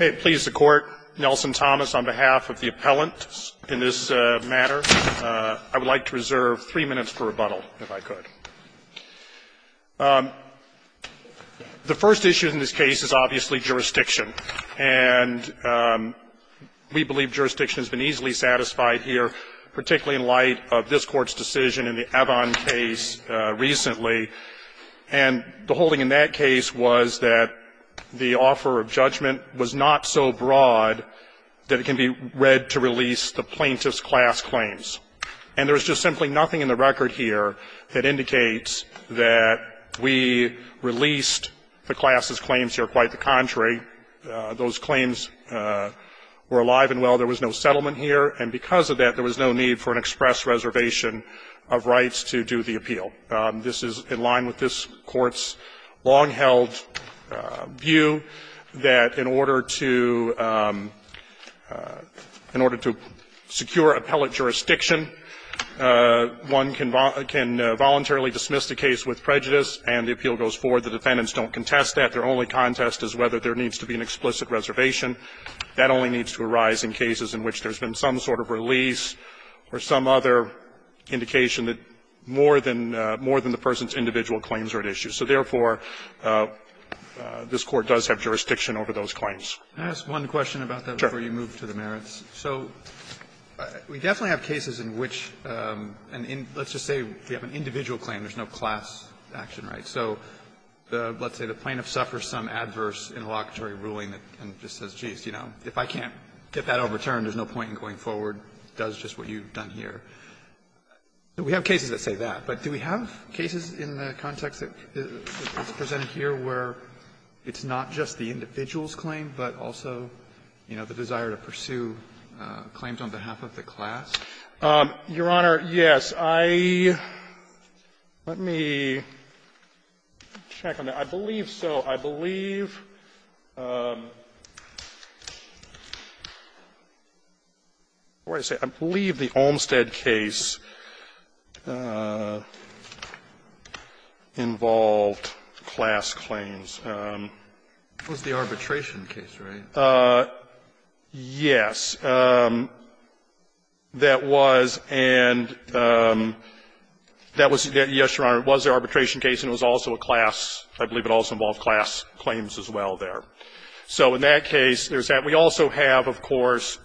It pleases the Court, Nelson Thomas, on behalf of the appellant in this matter. I would like to reserve three minutes for rebuttal, if I could. The first issue in this case is obviously jurisdiction, and we believe jurisdiction has been easily satisfied here, particularly in light of this Court's decision in the not so broad that it can be read to release the plaintiff's class claims. And there is just simply nothing in the record here that indicates that we released the class's claims here. Quite the contrary, those claims were alive and well. There was no settlement here, and because of that, there was no need for an express reservation of rights to do the appeal. This is in line with this Court's long-held view that in order to secure appellant jurisdiction, one can voluntarily dismiss the case with prejudice, and the appeal goes forward. The defendants don't contest that. Their only contest is whether there needs to be an explicit reservation. That only needs to arise in cases in which there's been some sort of release or some other indication that more than the person's individual claims are at issue. So, therefore, this Court does have jurisdiction over those claims. Roberts, can I ask one question about that before you move to the merits? So we definitely have cases in which, and let's just say we have an individual claim, there's no class action, right? So let's say the plaintiff suffers some adverse interlocutory ruling and just says, geez, you know, if I can't get that overturned, there's no point in going forward, does just what you've done here. Do we have cases that say that, but do we have cases in the context that's presented here where it's not just the individual's claim, but also, you know, the desire to pursue claims on behalf of the class? Fisherman, Your Honor, yes. Let me check on that. I believe so. I believe the Olmstead case involved class claims. It was the arbitration case, right? Yes. That was, and that was, yes, Your Honor, it was the arbitration case, and it was also a class, I believe it also involved class claims as well there. So in that case, there's that. We also have, of course,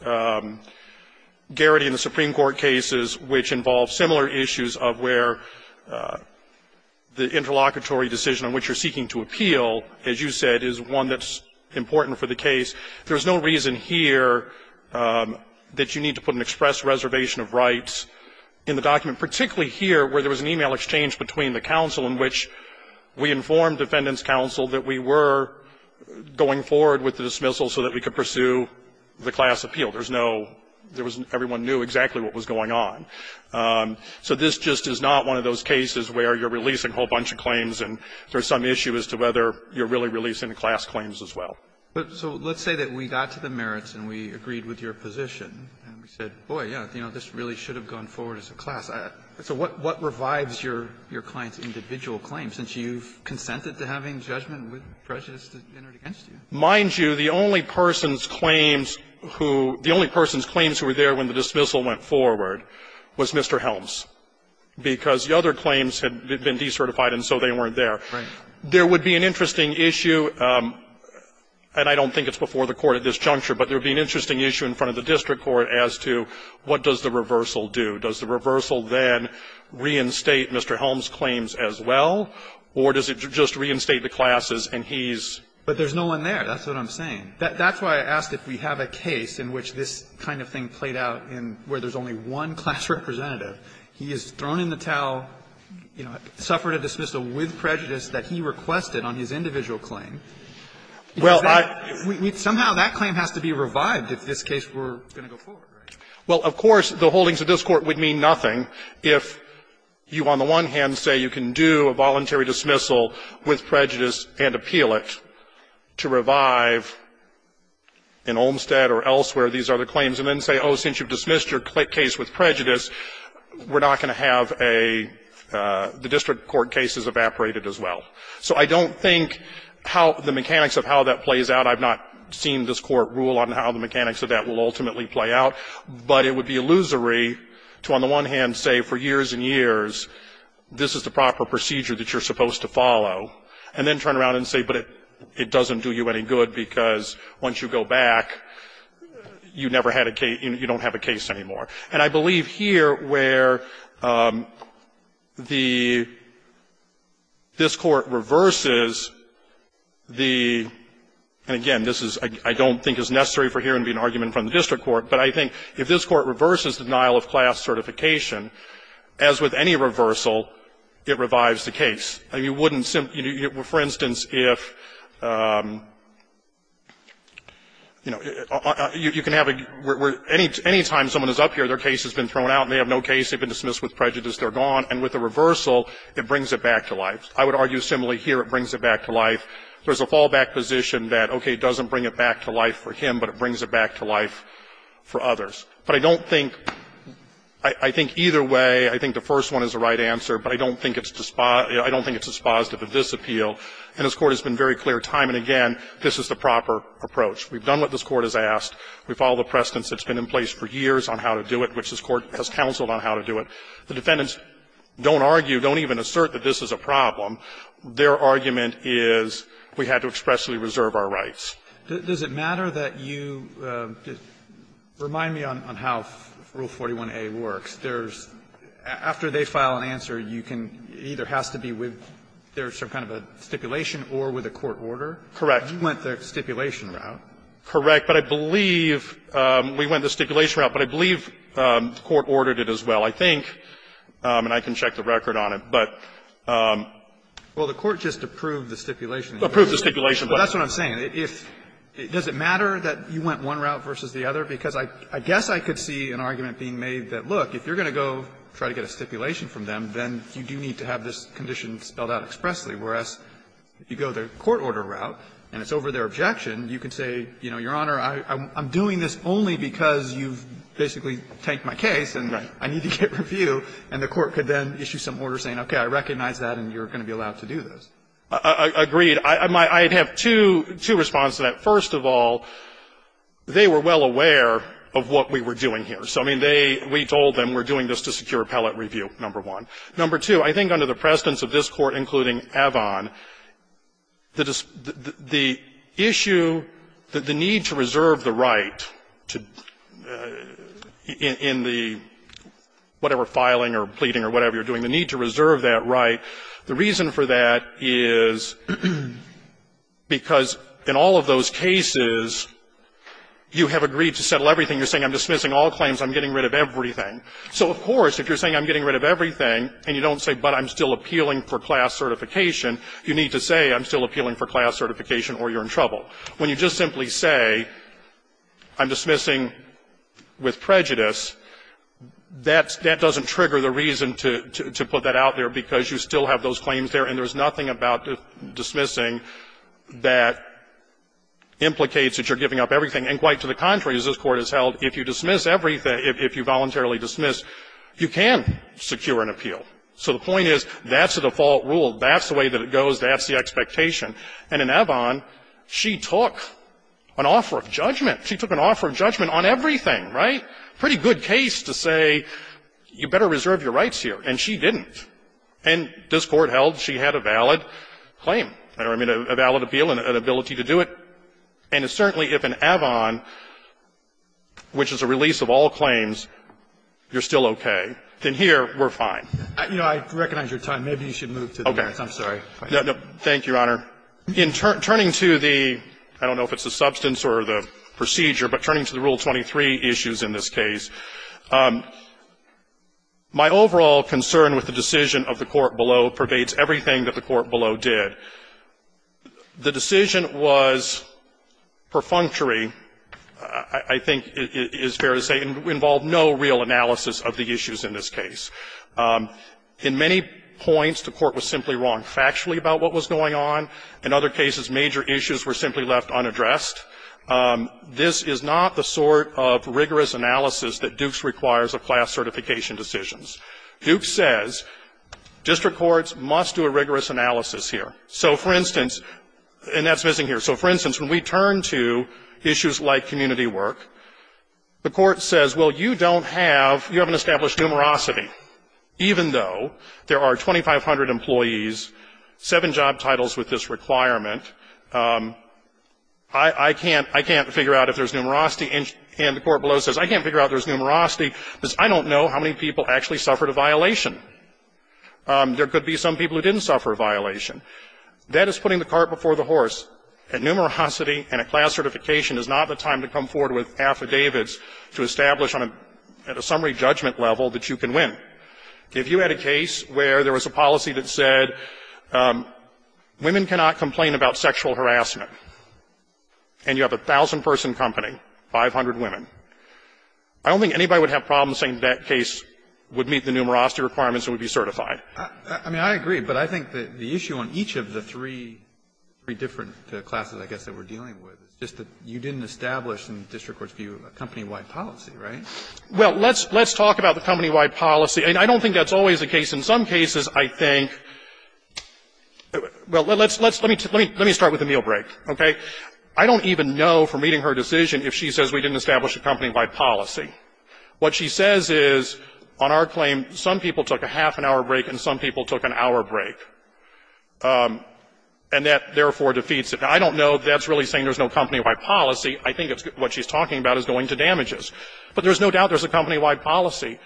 Garrity and the Supreme Court cases which involve similar issues of where the interlocutory decision on which you're seeking to appeal, as you said, is one that's important for the case. There's no reason here that you need to put an express reservation of rights in the document, particularly here where there was an e-mail exchange between the counsel in which we informed Defendant's counsel that we were going forward with the dismissal so that we could pursue the class appeal. There's no, there was no, everyone knew exactly what was going on. So this just is not one of those cases where you're releasing a whole bunch of claims and there's some issue as to whether you're really releasing the class claims as well. But so let's say that we got to the merits and we agreed with your position and we said, boy, yes, you know, this really should have gone forward as a class. So what revives your client's individual claim, since you've consented to having judgment with prejudice against you? Mind you, the only person's claims who, the only person's claims who were there when the dismissal went forward was Mr. Helms, because the other claims had been decertified and so they weren't there. There would be an interesting issue. And I don't think it's before the Court at this juncture, but there would be an interesting issue in front of the district court as to what does the reversal do. Does the reversal then reinstate Mr. Helms' claims as well, or does it just reinstate the classes and he's? But there's no one there. That's what I'm saying. That's why I asked if we have a case in which this kind of thing played out in where there's only one class representative. He is thrown in the towel, you know, suffered a dismissal with prejudice that he requested on his individual claim. Somehow that claim has to be revived if this case were going to go forward, right? Well, of course, the holdings of this Court would mean nothing if you, on the one hand, say you can do a voluntary dismissal with prejudice and appeal it to revive in Olmstead or elsewhere these other claims, and then say, oh, since you've dismissed your case with prejudice, we're not going to have a the district court case is evaporated as well. So I don't think how the mechanics of how that plays out, I've not seen this Court rule on how the mechanics of that will ultimately play out, but it would be illusory to, on the one hand, say for years and years this is the proper procedure that you're supposed to follow, and then turn around and say, but it doesn't do you any good because once you go back, you never had a case, you don't have a case anymore. And I believe here where the this Court reverses the, and again, this is, I don't think is necessary for here to be an argument from the district court, but I think if this Court reverses denial of class certification, as with any reversal, it revives the case. You wouldn't, for instance, if, you know, you can have a, any time someone is up here and their case has been thrown out and they have no case, they've been dismissed with prejudice, they're gone, and with a reversal, it brings it back to life. I would argue similarly here, it brings it back to life. There's a fallback position that, okay, it doesn't bring it back to life for him, but it brings it back to life for others. But I don't think, I think either way, I think the first one is the right answer, but I don't think it's despised, I don't think it's despised of a disappeal. And this Court has been very clear time and again, this is the proper approach. We've done what this Court has asked. We follow the precedence that's been in place for years on how to do it, which this Court has counseled on how to do it. The defendants don't argue, don't even assert that this is a problem. Their argument is we had to expressly reserve our rights. Roberts. Does it matter that you remind me on how Rule 41a works? There's, after they file an answer, you can, it either has to be with, there's some kind of a stipulation or with a court order? Correct. You went the stipulation route. Correct. But I believe, we went the stipulation route, but I believe the Court ordered it as well, I think, and I can check the record on it, but. Well, the Court just approved the stipulation. Approved the stipulation. That's what I'm saying. Does it matter that you went one route versus the other? Because I guess I could see an argument being made that, look, if you're going to go try to get a stipulation from them, then you do need to have this condition spelled out expressly, whereas if you go the court order route and it's over their objection, you can say, you know, Your Honor, I'm doing this only because you've basically tanked my case and I need to get review, and the court could then issue some order saying, okay, I recognize that and you're going to be allowed to do this. Agreed. I'd have two responses to that. First of all, they were well aware of what we were doing here. So, I mean, they, we told them we're doing this to secure appellate review, number one. Number two, I think under the precedence of this Court, including Avon, the issue that the need to reserve the right to, in the, whatever, filing or pleading or whatever you're doing, the need to reserve that right, the reason for that is because in all of those cases, you have agreed to settle everything. You're saying I'm dismissing all claims, I'm getting rid of everything. So, of course, if you're saying I'm getting rid of everything and you don't say, but I'm still appealing for class certification, you need to say I'm still appealing for class certification or you're in trouble. When you just simply say I'm dismissing with prejudice, that's, that doesn't trigger the reason to, to put that out there, because you still have those claims there and there's nothing about dismissing that implicates that you're giving up everything. And quite to the contrary, as this Court has held, if you dismiss everything, if you voluntarily dismiss, you can secure an appeal. So the point is, that's the default rule, that's the way that it goes, that's the expectation. And in Avon, she took an offer of judgment. She took an offer of judgment on everything, right? Pretty good case to say you better reserve your rights here, and she didn't. And this Court held she had a valid claim. I don't know if I mean a valid appeal and an ability to do it. And it's certainly, if in Avon, which is a release of all claims, you're still okay. Then here, we're fine. You know, I recognize your time. Maybe you should move to the next. I'm sorry. Thank you, Your Honor. In turning to the, I don't know if it's the substance or the procedure, but turning to the Rule 23 issues in this case, my overall concern with the decision of the court below pervades everything that the court below did. The decision was perfunctory, I think it is fair to say, and involved no real analysis of the issues in this case. In many points, the court was simply wrong factually about what was going on. In other cases, major issues were simply left unaddressed. This is not the sort of rigorous analysis that Dukes requires of class certification decisions. Dukes says district courts must do a rigorous analysis here. So, for instance, and that's missing here. So, for instance, when we turn to issues like community work, the court says, well, you don't have, you haven't established numerosity, even though there are 2,500 employees, seven job titles with this requirement, I can't figure out if there's numerosity. And the court below says, I can't figure out if there's numerosity because I don't know how many people actually suffered a violation. There could be some people who didn't suffer a violation. That is putting the cart before the horse. And numerosity and a class certification is not the time to come forward with affidavits to establish on a summary judgment level that you can win. If you had a case where there was a policy that said women cannot complain about sexual harassment and you have a 1,000-person company, 500 women, I don't think anybody would have problems saying that case would meet the numerosity requirements and would be certified. I mean, I agree. But I think the issue on each of the three different classes, I guess, that we're dealing with is just that you didn't establish, in the district court's view, a company-wide policy, right? Well, let's talk about the company-wide policy. I don't think that's always the case. In some cases, I think, well, let me start with the meal break, okay? I don't even know, from reading her decision, if she says we didn't establish a company-wide policy. What she says is, on our claim, some people took a half-an-hour break and some people took an hour break. And that, therefore, defeats it. Now, I don't know if that's really saying there's no company-wide policy. I think what she's talking about is going to damages. But there's no doubt there's a company-wide policy.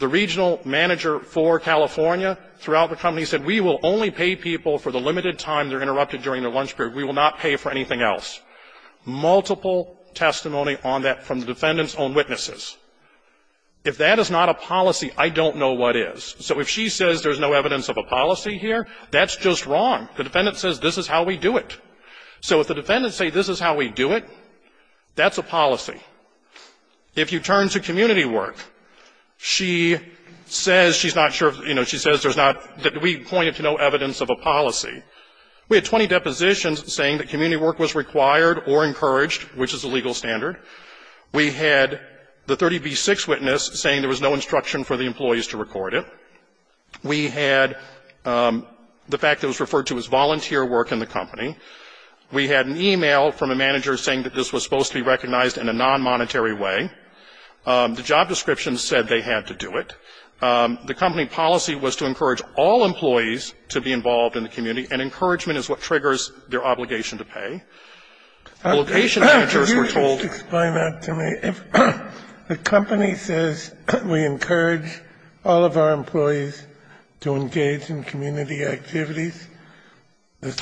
The regional manager for California throughout the company said we will only pay people for the limited time they're interrupted during their lunch period. We will not pay for anything else. Multiple testimony on that from the defendant's own witnesses. If that is not a policy, I don't know what is. So if she says there's no evidence of a policy here, that's just wrong. The defendant says this is how we do it. So if the defendants say this is how we do it, that's a policy. If you turn to community work, she says she's not sure, you know, she says there's not, that we pointed to no evidence of a policy. We had 20 depositions saying that community work was required or encouraged, which is a legal standard. We had the 30B6 witness saying there was no instruction for the employees to record it. We had the fact it was referred to as volunteer work in the company. We had an email from a manager saying that this was supposed to be recognized in a non-monetary way. The job description said they had to do it. The company policy was to encourage all employees to be involved in the community and encouragement is what triggers their obligation to pay. Obligation managers were told to do it. Kennedy, the company says we encourage all of our employees to engage in community activities. Is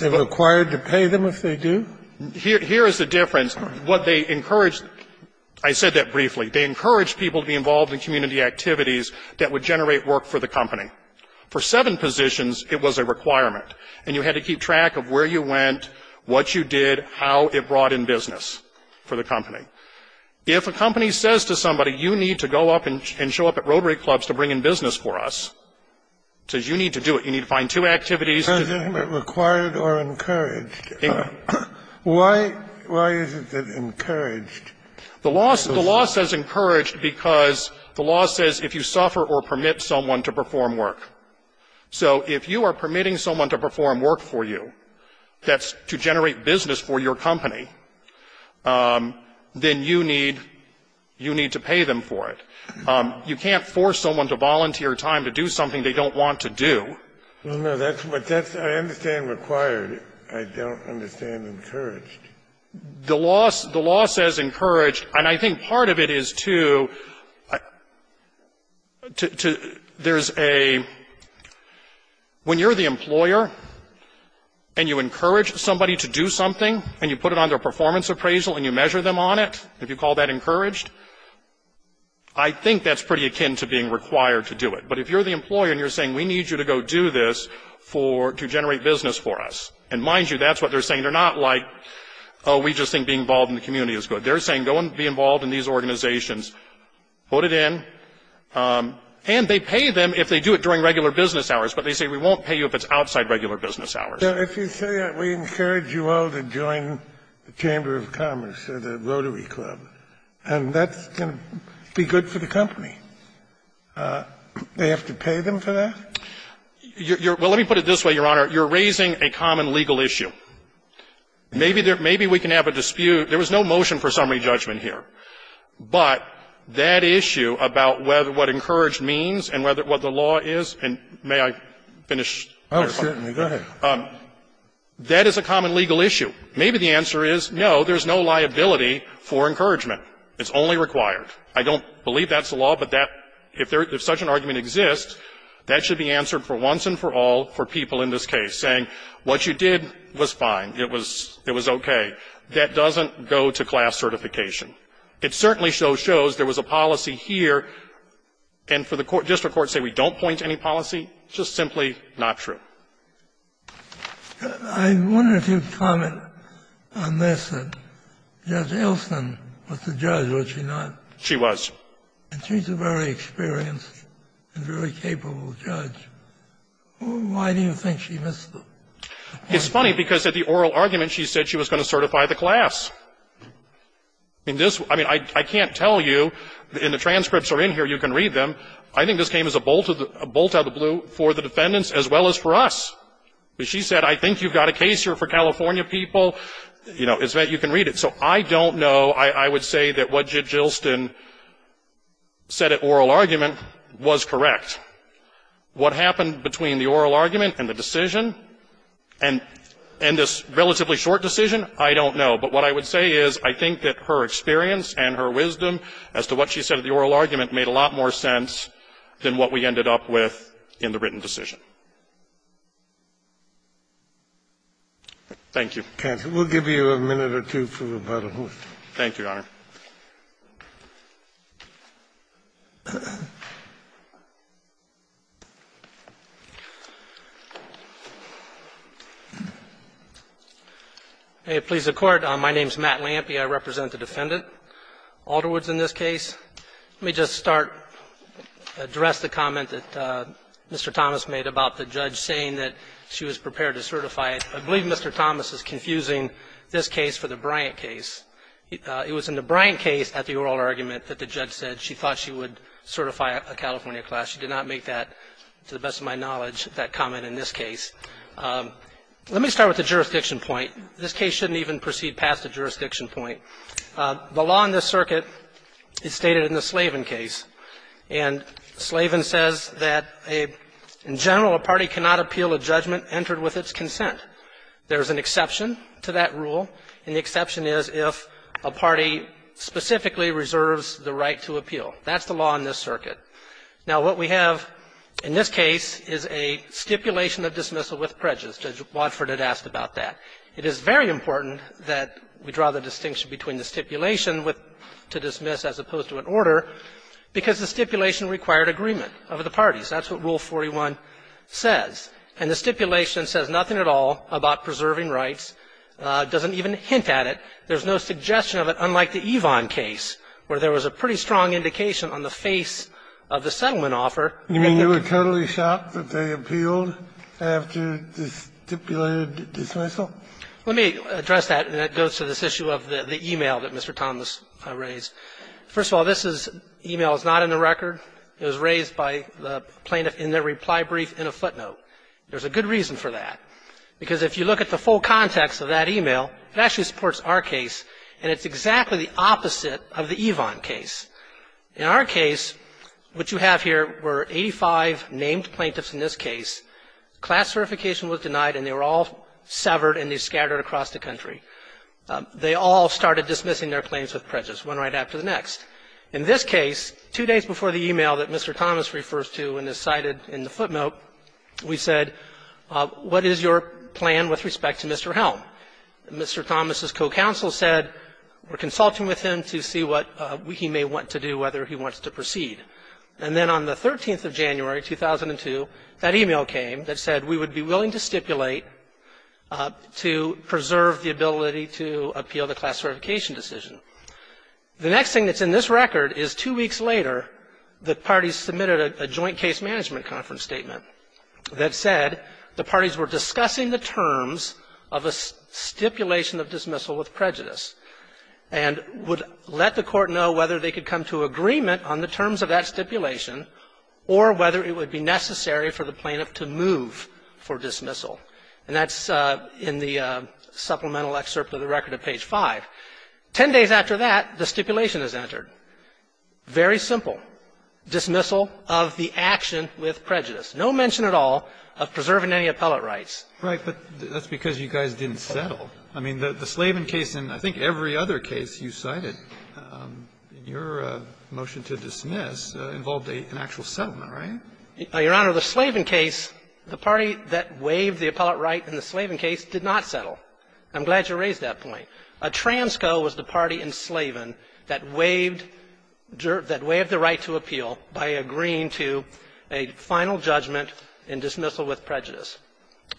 it required to pay them if they do? Here is the difference. What they encouraged, I said that briefly, they encouraged people to be involved in community activities that would generate work for the company. For seven positions, it was a requirement and you had to keep track of where you went, what you did, how it brought in business for the company. If a company says to somebody you need to go up and show up at Rotary Clubs to bring in business for us, it says you need to do it. You need to find two activities. But is it required or encouraged? Why is it encouraged? The law says encouraged because the law says if you suffer or permit someone to perform work, so if you are permitting someone to perform work for you, that's to generate business for your company, then you need to pay them for it. You can't force someone to volunteer time to do something they don't want to do. No, no, that's what that's, I understand required. I don't understand encouraged. The law says encouraged, and I think part of it is to, there's a, when you're the employer and you encourage somebody to do something and you put it on their performance appraisal and you measure them on it, if you call that encouraged, I think that's pretty akin to being required to do it. But if you're the employer and you're saying we need you to go do this for, to generate business for us, and mind you, that's what they're saying. They're not like, oh, we just think being involved in the community is good. They're saying go and be involved in these organizations, put it in, and they pay them if they do it during regular business hours, but they say we won't pay you if it's outside regular business hours. Scalia, we encourage you all to join the Chamber of Commerce, the Rotary Club, and that's going to be good for the company. They have to pay them for that? Well, let me put it this way, Your Honor. You're raising a common legal issue. Maybe there, maybe we can have a dispute. There was no motion for summary judgment here. But that issue about what encouraged means and what the law is, and may I finish? Oh, certainly. Go ahead. That is a common legal issue. Maybe the answer is, no, there's no liability for encouragement. It's only required. I don't believe that's the law, but that, if such an argument exists, that should be answered for once and for all for people in this case, saying what you did was fine. It was okay. That doesn't go to class certification. It certainly shows there was a policy here, and for the district courts to say we don't point to any policy, just simply not true. I wanted to comment on this, that Judge Elston was the judge, was she not? She was. And she's a very experienced and very capable judge. Why do you think she missed the point? It's funny, because at the oral argument, she said she was going to certify the class. I mean, I can't tell you, and the transcripts are in here, you can read them. I think this came as a bolt out of the blue for the defendants as well as for us. She said, I think you've got a case here for California people. You know, it's that you can read it. So I don't know. I would say that what Judge Elston said at oral argument was correct. What happened between the oral argument and the decision, and this relatively short decision, I don't know. But what I would say is I think that her experience and her wisdom as to what she said at the oral argument made a lot more sense than what we ended up with in the written decision. Thank you. Kennedy, we'll give you a minute or two for rebuttal. Thank you, Your Honor. May it please the Court. My name is Matt Lampe. I represent the defendant, Alderwoods, in this case. Let me just start, address the comment that Mr. Thomas made about the judge saying that she was prepared to certify. I believe Mr. Thomas is confusing this case for the Bryant case. It was in the Bryant case at the oral argument that the judge said she thought she would certify a California class. She did not make that, to the best of my knowledge, that comment in this case. Let me start with the jurisdiction point. This case shouldn't even proceed past the jurisdiction point. The law in this circuit is stated in the Slavin case. And Slavin says that, in general, a party cannot appeal a judgment entered with its consent. There is an exception to that rule, and the exception is if a party specifically reserves the right to appeal. That's the law in this circuit. Now, what we have in this case is a stipulation of dismissal with prejudice. Judge Wadford had asked about that. It is very important that we draw the distinction between the stipulation with to dismiss as opposed to an order, because the stipulation required agreement over the parties. That's what Rule 41 says. And the stipulation says nothing at all about preserving rights, doesn't even hint at it. There's no suggestion of it, unlike the Evon case, where there was a pretty strong indication on the face of the settlement offer that the ---- Kennedy, you mean you were totally shocked that they appealed after the stipulated dismissal? Let me address that, and that goes to this issue of the e-mail that Mr. Thomas raised. First of all, this is an e-mail that's not in the record. It was raised by the plaintiff in their reply brief in a footnote. There's a good reason for that, because if you look at the full context of that e-mail, it actually supports our case, and it's exactly the opposite of the Evon case. In our case, what you have here were 85 named plaintiffs in this case. Class certification was denied, and they were all severed, and they scattered across the country. They all started dismissing their claims with prejudice, one right after the next. In this case, two days before the e-mail that Mr. Thomas refers to and is cited in the footnote, we said, what is your plan with respect to Mr. Helm? Mr. Thomas' co-counsel said, we're consulting with him to see what he may want to do, whether he wants to proceed. And then on the 13th of January, 2002, that e-mail came that said we would be willing to stipulate to preserve the ability to appeal the class certification decision. The next thing that's in this record is two weeks later, the parties submitted a joint case management conference statement that said the parties were discussing the terms of a stipulation of dismissal with prejudice and would let the Court know whether they could come to agreement on the terms of that stipulation or whether it would be necessary for the plaintiff to move for dismissal. And that's in the supplemental excerpt of the record at page 5. Ten days after that, the stipulation is entered. Very simple. Dismissal of the action with prejudice. No mention at all of preserving any appellate rights. Right. But that's because you guys didn't settle. I mean, the Slavin case and I think every other case you cited in your motion to dismiss involved an actual settlement, right? Your Honor, the Slavin case, the party that waived the appellate right in the Slavin case did not settle. I'm glad you raised that point. A transco was the party in Slavin that waived the right to appeal by agreeing to a final judgment in dismissal with prejudice.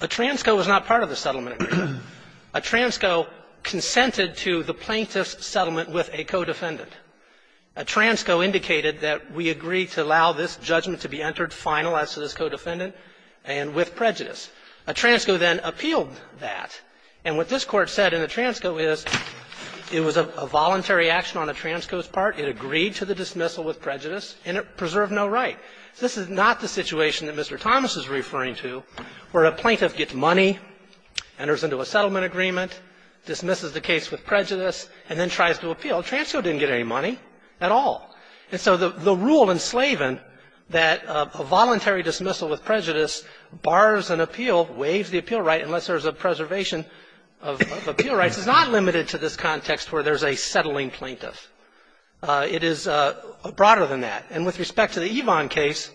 A transco was not part of the settlement agreement. A transco consented to the plaintiff's settlement with a co-defendant. A transco indicated that we agree to allow this judgment to be entered final as to this co-defendant and with prejudice. A transco then appealed that. And what this Court said in the transco is it was a voluntary action on a transco's part. It agreed to the dismissal with prejudice and it preserved no right. This is not the situation that Mr. Thomas is referring to where a plaintiff gets money, enters into a settlement agreement, dismisses the case with prejudice, and then tries to appeal. A transco didn't get any money at all. And so the rule in Slavin that a voluntary dismissal with prejudice bars an appeal, waives the appeal right, unless there's a preservation of appeal rights, is not limited to this context where there's a settling plaintiff. It is broader than that. And with respect to the Evon case,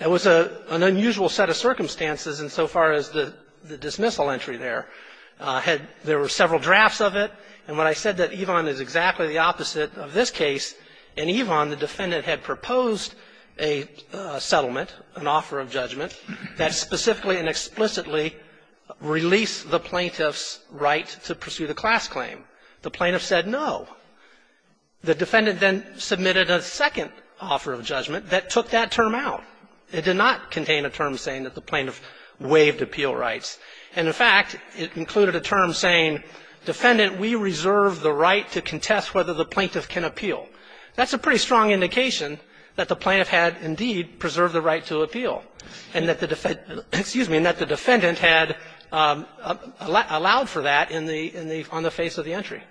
it was an unusual set of circumstances insofar as the dismissal entry there had – there were several drafts of it. And when I said that Evon is exactly the opposite of this case, in Evon, the defendant had proposed a settlement, an offer of judgment, that specifically and explicitly released the plaintiff's right to pursue the class claim. The plaintiff said no. The defendant then submitted a second offer of judgment that took that term out. It did not contain a term saying that the plaintiff waived appeal rights. And, in fact, it included a term saying, defendant, we reserve the right to contest whether the plaintiff can appeal. That's a pretty strong indication that the plaintiff had, indeed, preserved the right to appeal, and that the defendant – excuse me – and that the defendant had allowed for that in the – on the face of the entry.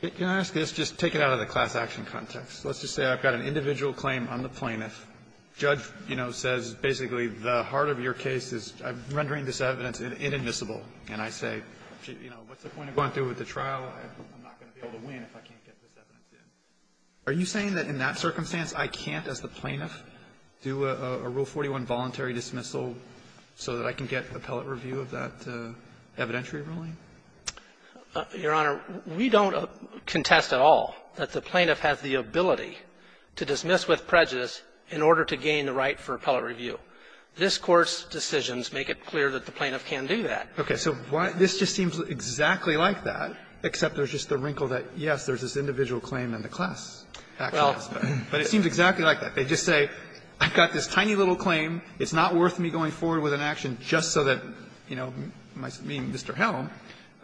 Can I ask this, just take it out of the class action context. Let's just say I've got an individual claim on the plaintiff. The judge, you know, says basically the heart of your case is rendering this evidence inadmissible. And I say, you know, what's the point of going through with the trial? I'm not going to be able to win if I can't get this evidence in. Are you saying that in that circumstance, I can't, as the plaintiff, do a Rule 41 voluntary dismissal so that I can get appellate review of that evidentiary ruling? Your Honor, we don't contest at all that the plaintiff has the ability to dismiss with prejudice in order to gain the right for appellate review. This Court's decisions make it clear that the plaintiff can do that. Okay. So why – this just seems exactly like that, except there's just the wrinkle that, yes, there's this individual claim in the class action aspect. But it seems exactly like that. They just say, I've got this tiny little claim. It's not worth me going forward with an action just so that, you know, me, Mr. Helm,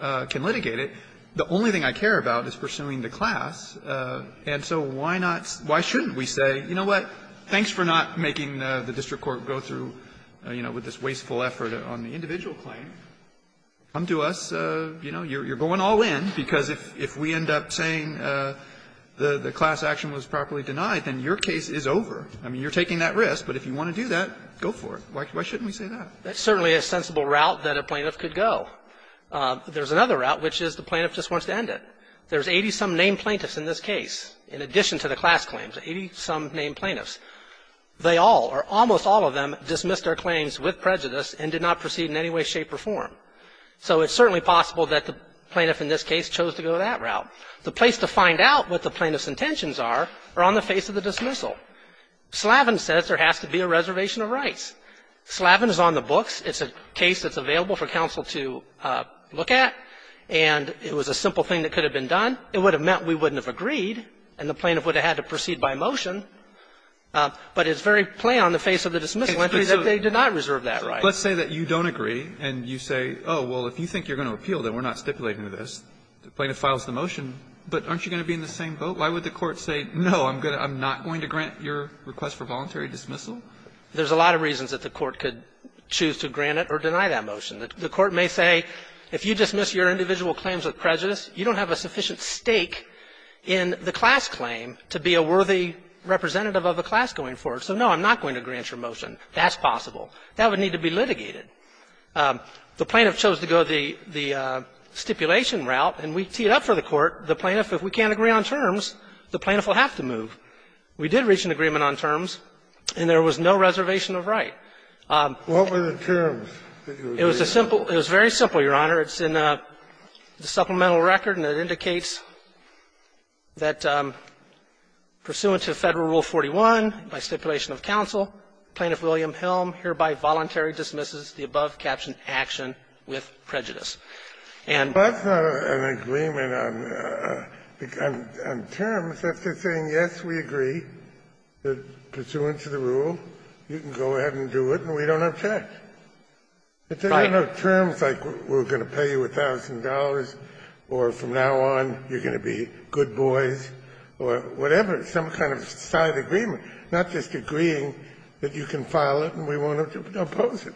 can litigate it. The only thing I care about is pursuing the class, and so why not – why shouldn't we say, you know what, thanks for not making the district court go through, you know, with this wasteful effort on the individual claim, come to us, you know, you're going all in, because if we end up saying the class action was properly denied, then your case is over. I mean, you're taking that risk, but if you want to do that, go for it. Why shouldn't we say that? That's certainly a sensible route that a plaintiff could go. There's another route, which is the plaintiff just wants to end it. There's 80-some named plaintiffs in this case, in addition to the class claims, 80-some named plaintiffs. They all, or almost all of them, dismissed their claims with prejudice and did not proceed in any way, shape, or form. So it's certainly possible that the plaintiff in this case chose to go that route. The place to find out what the plaintiff's intentions are are on the face of the dismissal. Slavin says there has to be a reservation of rights. Slavin is on the books. It's a case that's available for counsel to look at, and it was a simple thing that could have been done. It would have meant we wouldn't have agreed, and the plaintiff would have had to proceed by motion. But it's very plain on the face of the dismissal entry that they did not reserve that right. Let's say that you don't agree, and you say, oh, well, if you think you're going to appeal, then we're not stipulating this. The plaintiff files the motion, but aren't you going to be in the same boat? Why would the Court say, no, I'm not going to grant your request for voluntary dismissal? There's a lot of reasons that the Court could choose to grant it or deny that motion. The Court may say, if you dismiss your individual claims with prejudice, you don't have a sufficient stake in the class claim to be a worthy representative of the class going forward. So, no, I'm not going to grant your motion. That's possible. That would need to be litigated. The plaintiff chose to go the stipulation route, and we teed up for the Court. The plaintiff, if we can't agree on terms, the plaintiff will have to move. We did reach an agreement on terms, and there was no reservation of right. It was a simple – it was very simple, Your Honor. It's in the supplemental record, and it indicates that pursuant to Federal Rule 41 by stipulation of counsel, Plaintiff William Helm hereby voluntary dismisses the above-captioned action with prejudice. And the Court – Kennedy, that's not an agreement on terms. If they're saying, yes, we agree that pursuant to the rule, you can go ahead and do it, and we don't object. Right. If there are no terms, like we're going to pay you $1,000, or from now on, you're going to be good boys, or whatever, some kind of side agreement, not just agreeing that you can file it and we won't have to oppose it.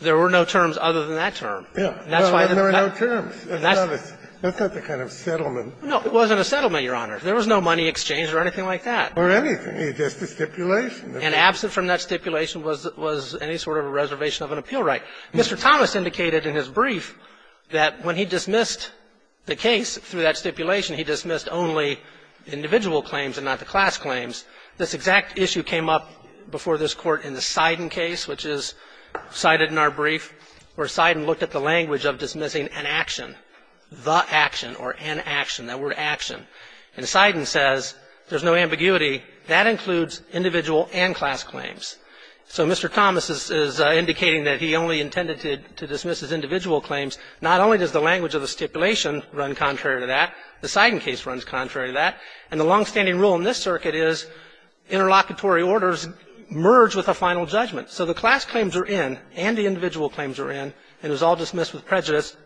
There were no terms other than that term. Yeah. There were no terms. That's not the kind of settlement. No, it wasn't a settlement, Your Honor. There was no money exchange or anything like that. Or anything. It's just a stipulation. And absent from that stipulation was any sort of a reservation of an appeal right. Mr. Thomas indicated in his brief that when he dismissed the case through that stipulation, he dismissed only individual claims and not the class claims. This exact issue came up before this Court in the Seiden case, which is cited in our brief, where Seiden looked at the language of dismissing an action, the action or an action, that word action. And Seiden says there's no ambiguity. That includes individual and class claims. So Mr. Thomas is indicating that he only intended to dismiss his individual claims. Not only does the language of the stipulation run contrary to that, the Seiden case runs contrary to that. And the longstanding rule in this circuit is interlocutory orders merge with a final judgment. So the class claims are in and the individual claims are in, and it was all dismissed with prejudice,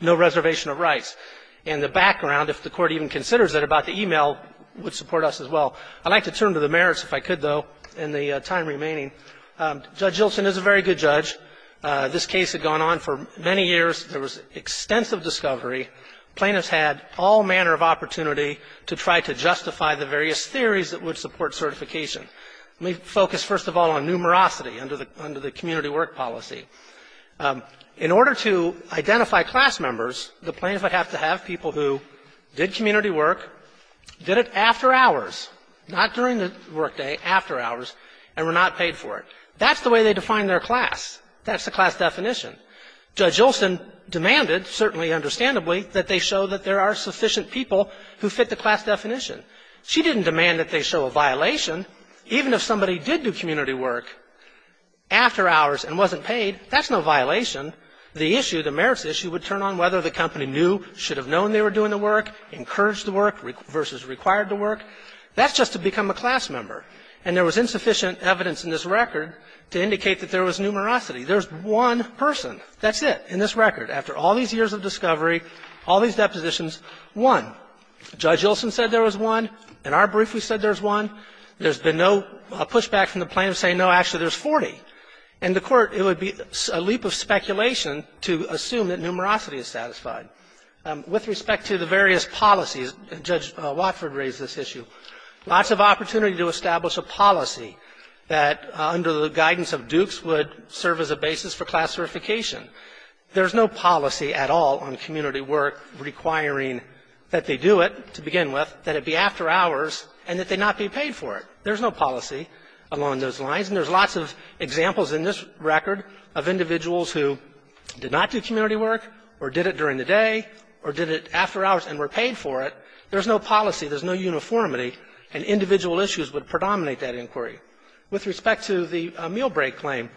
no reservation of rights. And the background, if the Court even considers it, about the e-mail would support us as well. I'd like to turn to the merits, if I could, though, in the time remaining. Judge Hilton is a very good judge. This case had gone on for many years. There was extensive discovery. Plaintiffs had all manner of opportunity to try to justify the various theories that would support certification. Let me focus, first of all, on numerosity under the community work policy. In order to identify class members, the plaintiffs would have to have people who did community work, did it after hours, not during the work day, after hours, and were not paid for it. That's the way they define their class. That's the class definition. Judge Olson demanded, certainly understandably, that they show that there are sufficient people who fit the class definition. She didn't demand that they show a violation. Even if somebody did do community work after hours and wasn't paid, that's no violation. The issue, the merits issue, would turn on whether the company knew, should have known they were doing the work, encouraged the work versus required the work. That's just to become a class member. And there was insufficient evidence in this record to indicate that there was numerosity. There's one person. That's it in this record. After all these years of discovery, all these depositions, one. Judge Olson said there was one. In our brief, we said there's one. There's been no pushback from the plaintiff saying, no, actually, there's 40. In the Court, it would be a leap of speculation to assume that numerosity is satisfied. With respect to the various policies, and Judge Watford raised this issue, lots of opportunity to establish a policy that, under the guidance of Dukes, would serve as a basis for class verification. There's no policy at all on community work requiring that they do it, to begin with, that it be after hours and that they not be paid for it. There's no policy along those lines. And there's lots of examples in this record of individuals who did not do community work or did it during the day or did it after hours and were paid for it. There's no policy. There's no uniformity. And individual issues would predominate that inquiry. With respect to the meal break claim,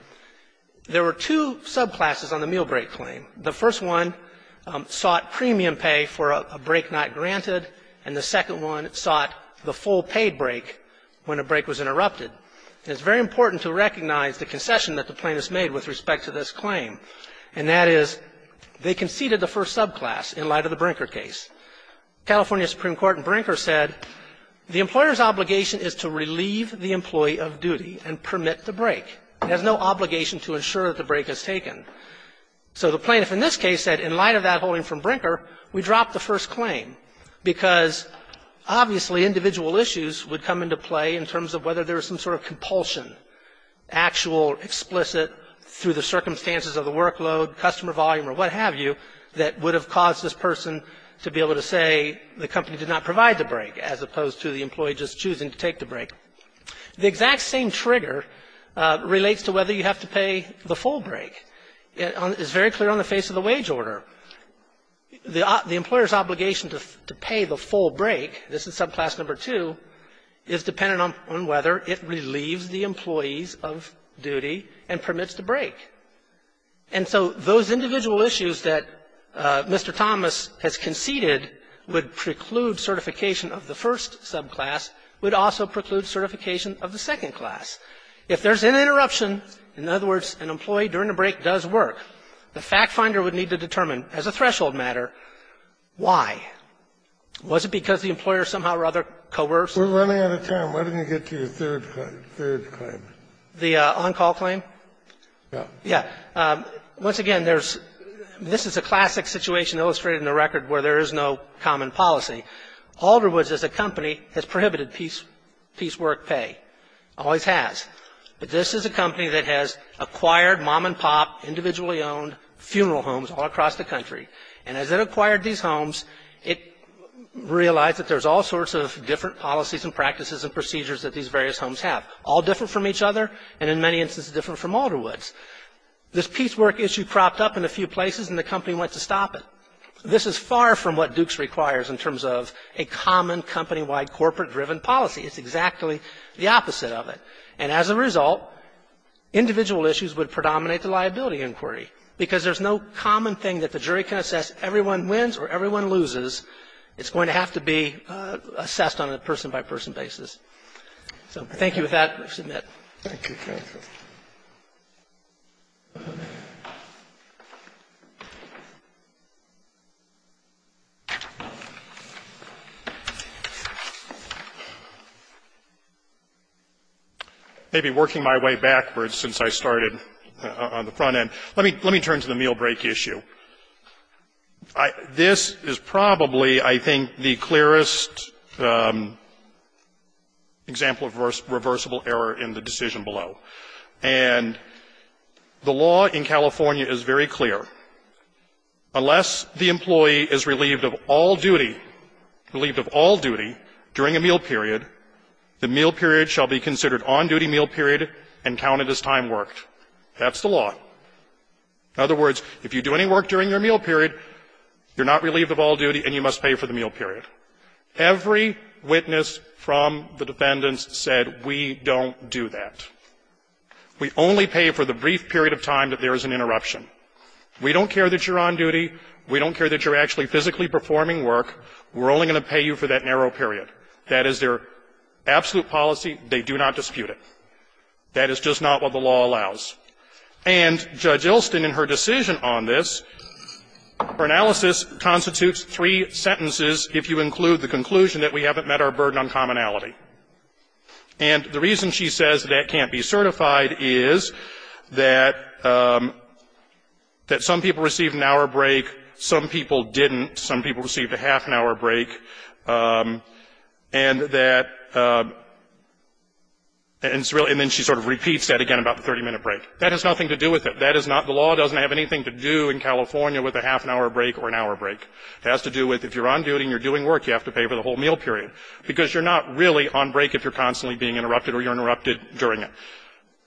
there were two subclasses on the meal break claim. The first one sought premium pay for a break not granted, and the second one sought the full paid break when a break was interrupted. And it's very important to recognize the concession that the plaintiffs made with respect to this claim, and that is they conceded the first subclass in light of the Brinker case. California Supreme Court in Brinker said the employer's obligation is to relieve the employee of duty and permit the break. It has no obligation to ensure that the break is taken. So the plaintiff in this case said, in light of that holding from Brinker, we dropped the first claim, because obviously individual issues would come into play in terms of whether there was some sort of compulsion, actual, explicit, through the circumstances of the workload, customer volume, or what have you, that would have caused this person to be able to say the company did not provide the break as opposed to the employee just choosing to take the break. The exact same trigger relates to whether you have to pay the full break. It is very clear on the face of the wage order. The employer's obligation to pay the full break, this is subclass number 2, is dependent on whether it relieves the employees of duty and permits the break. And so those individual issues that Mr. Thomas has conceded would preclude certification of the first subclass would also preclude certification of the second class. If there's an interruption, in other words, an employee during the break does work, the factfinder would need to determine as a threshold matter why. Was it because the employer somehow or other coerced? Kennedy, we're running out of time. Why don't you get to your third claim? The third claim. The on-call claim? Yeah. Yeah. Once again, there's this is a classic situation illustrated in the record where there is no common policy. Alderwoods as a company has prohibited piecework pay. Always has. But this is a company that has acquired mom and pop, individually owned funeral homes all across the country. And as it acquired these homes, it realized that there's all sorts of different policies and practices and procedures that these various homes have, all different from each other, and in many instances different from Alderwoods. This piecework issue cropped up in a few places, and the company went to stop it. This is far from what Dukes requires in terms of a common company-wide, corporate-driven policy. It's exactly the opposite of it. And as a result, individual issues would predominate the liability inquiry, because there's no common thing that the jury can assess. Everyone wins or everyone loses. It's going to have to be assessed on a person-by-person basis. So thank you. With that, I submit. Thank you, counsel. I've been working my way backwards since I started on the front end. Let me turn to the meal break issue. This is probably, I think, the clearest example of reversible error in the Dukes' case. And the law in California is very clear. Unless the employee is relieved of all duty, relieved of all duty during a meal period, the meal period shall be considered on-duty meal period and counted as time worked. That's the law. In other words, if you do any work during your meal period, you're not relieved of all duty and you must pay for the meal period. Every witness from the defendants said, we don't do that. We only pay for the brief period of time that there is an interruption. We don't care that you're on duty. We don't care that you're actually physically performing work. We're only going to pay you for that narrow period. That is their absolute policy. They do not dispute it. That is just not what the law allows. And Judge Ilston, in her decision on this, her analysis constitutes three sentences if you include the conclusion that we haven't met our burden on commonality. And the reason she says that can't be certified is that some people received an hour break, some people didn't, some people received a half-an-hour break, and that – and then she sort of repeats that again about the 30-minute break. That has nothing to do with it. That is not – the law doesn't have anything to do in California with a half-an-hour break or an hour break. It has to do with if you're on duty and you're doing work, you have to pay for the whole meal period, because you're not really on break if you're constantly being interrupted or you're interrupted during it.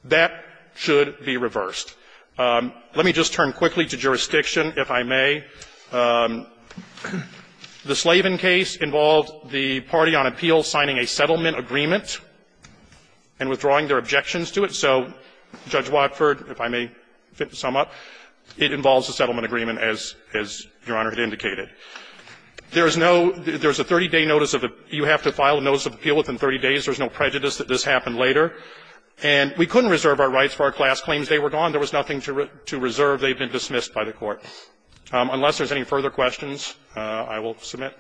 That should be reversed. Let me just turn quickly to jurisdiction, if I may. The Slavin case involved the party on appeal signing a settlement agreement and withdrawing their objections to it. So Judge Watford, if I may sum up, it involves a settlement agreement, as Your Honor had indicated. There is no – there is a 30-day notice of – you have to file a notice of appeal within 30 days. There is no prejudice that this happened later. And we couldn't reserve our rights for our class claims. They were gone. There was nothing to reserve. They've been dismissed by the Court. Unless there's any further questions, I will submit.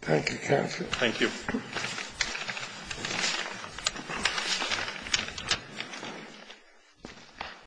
Thank you, counsel. Thank you.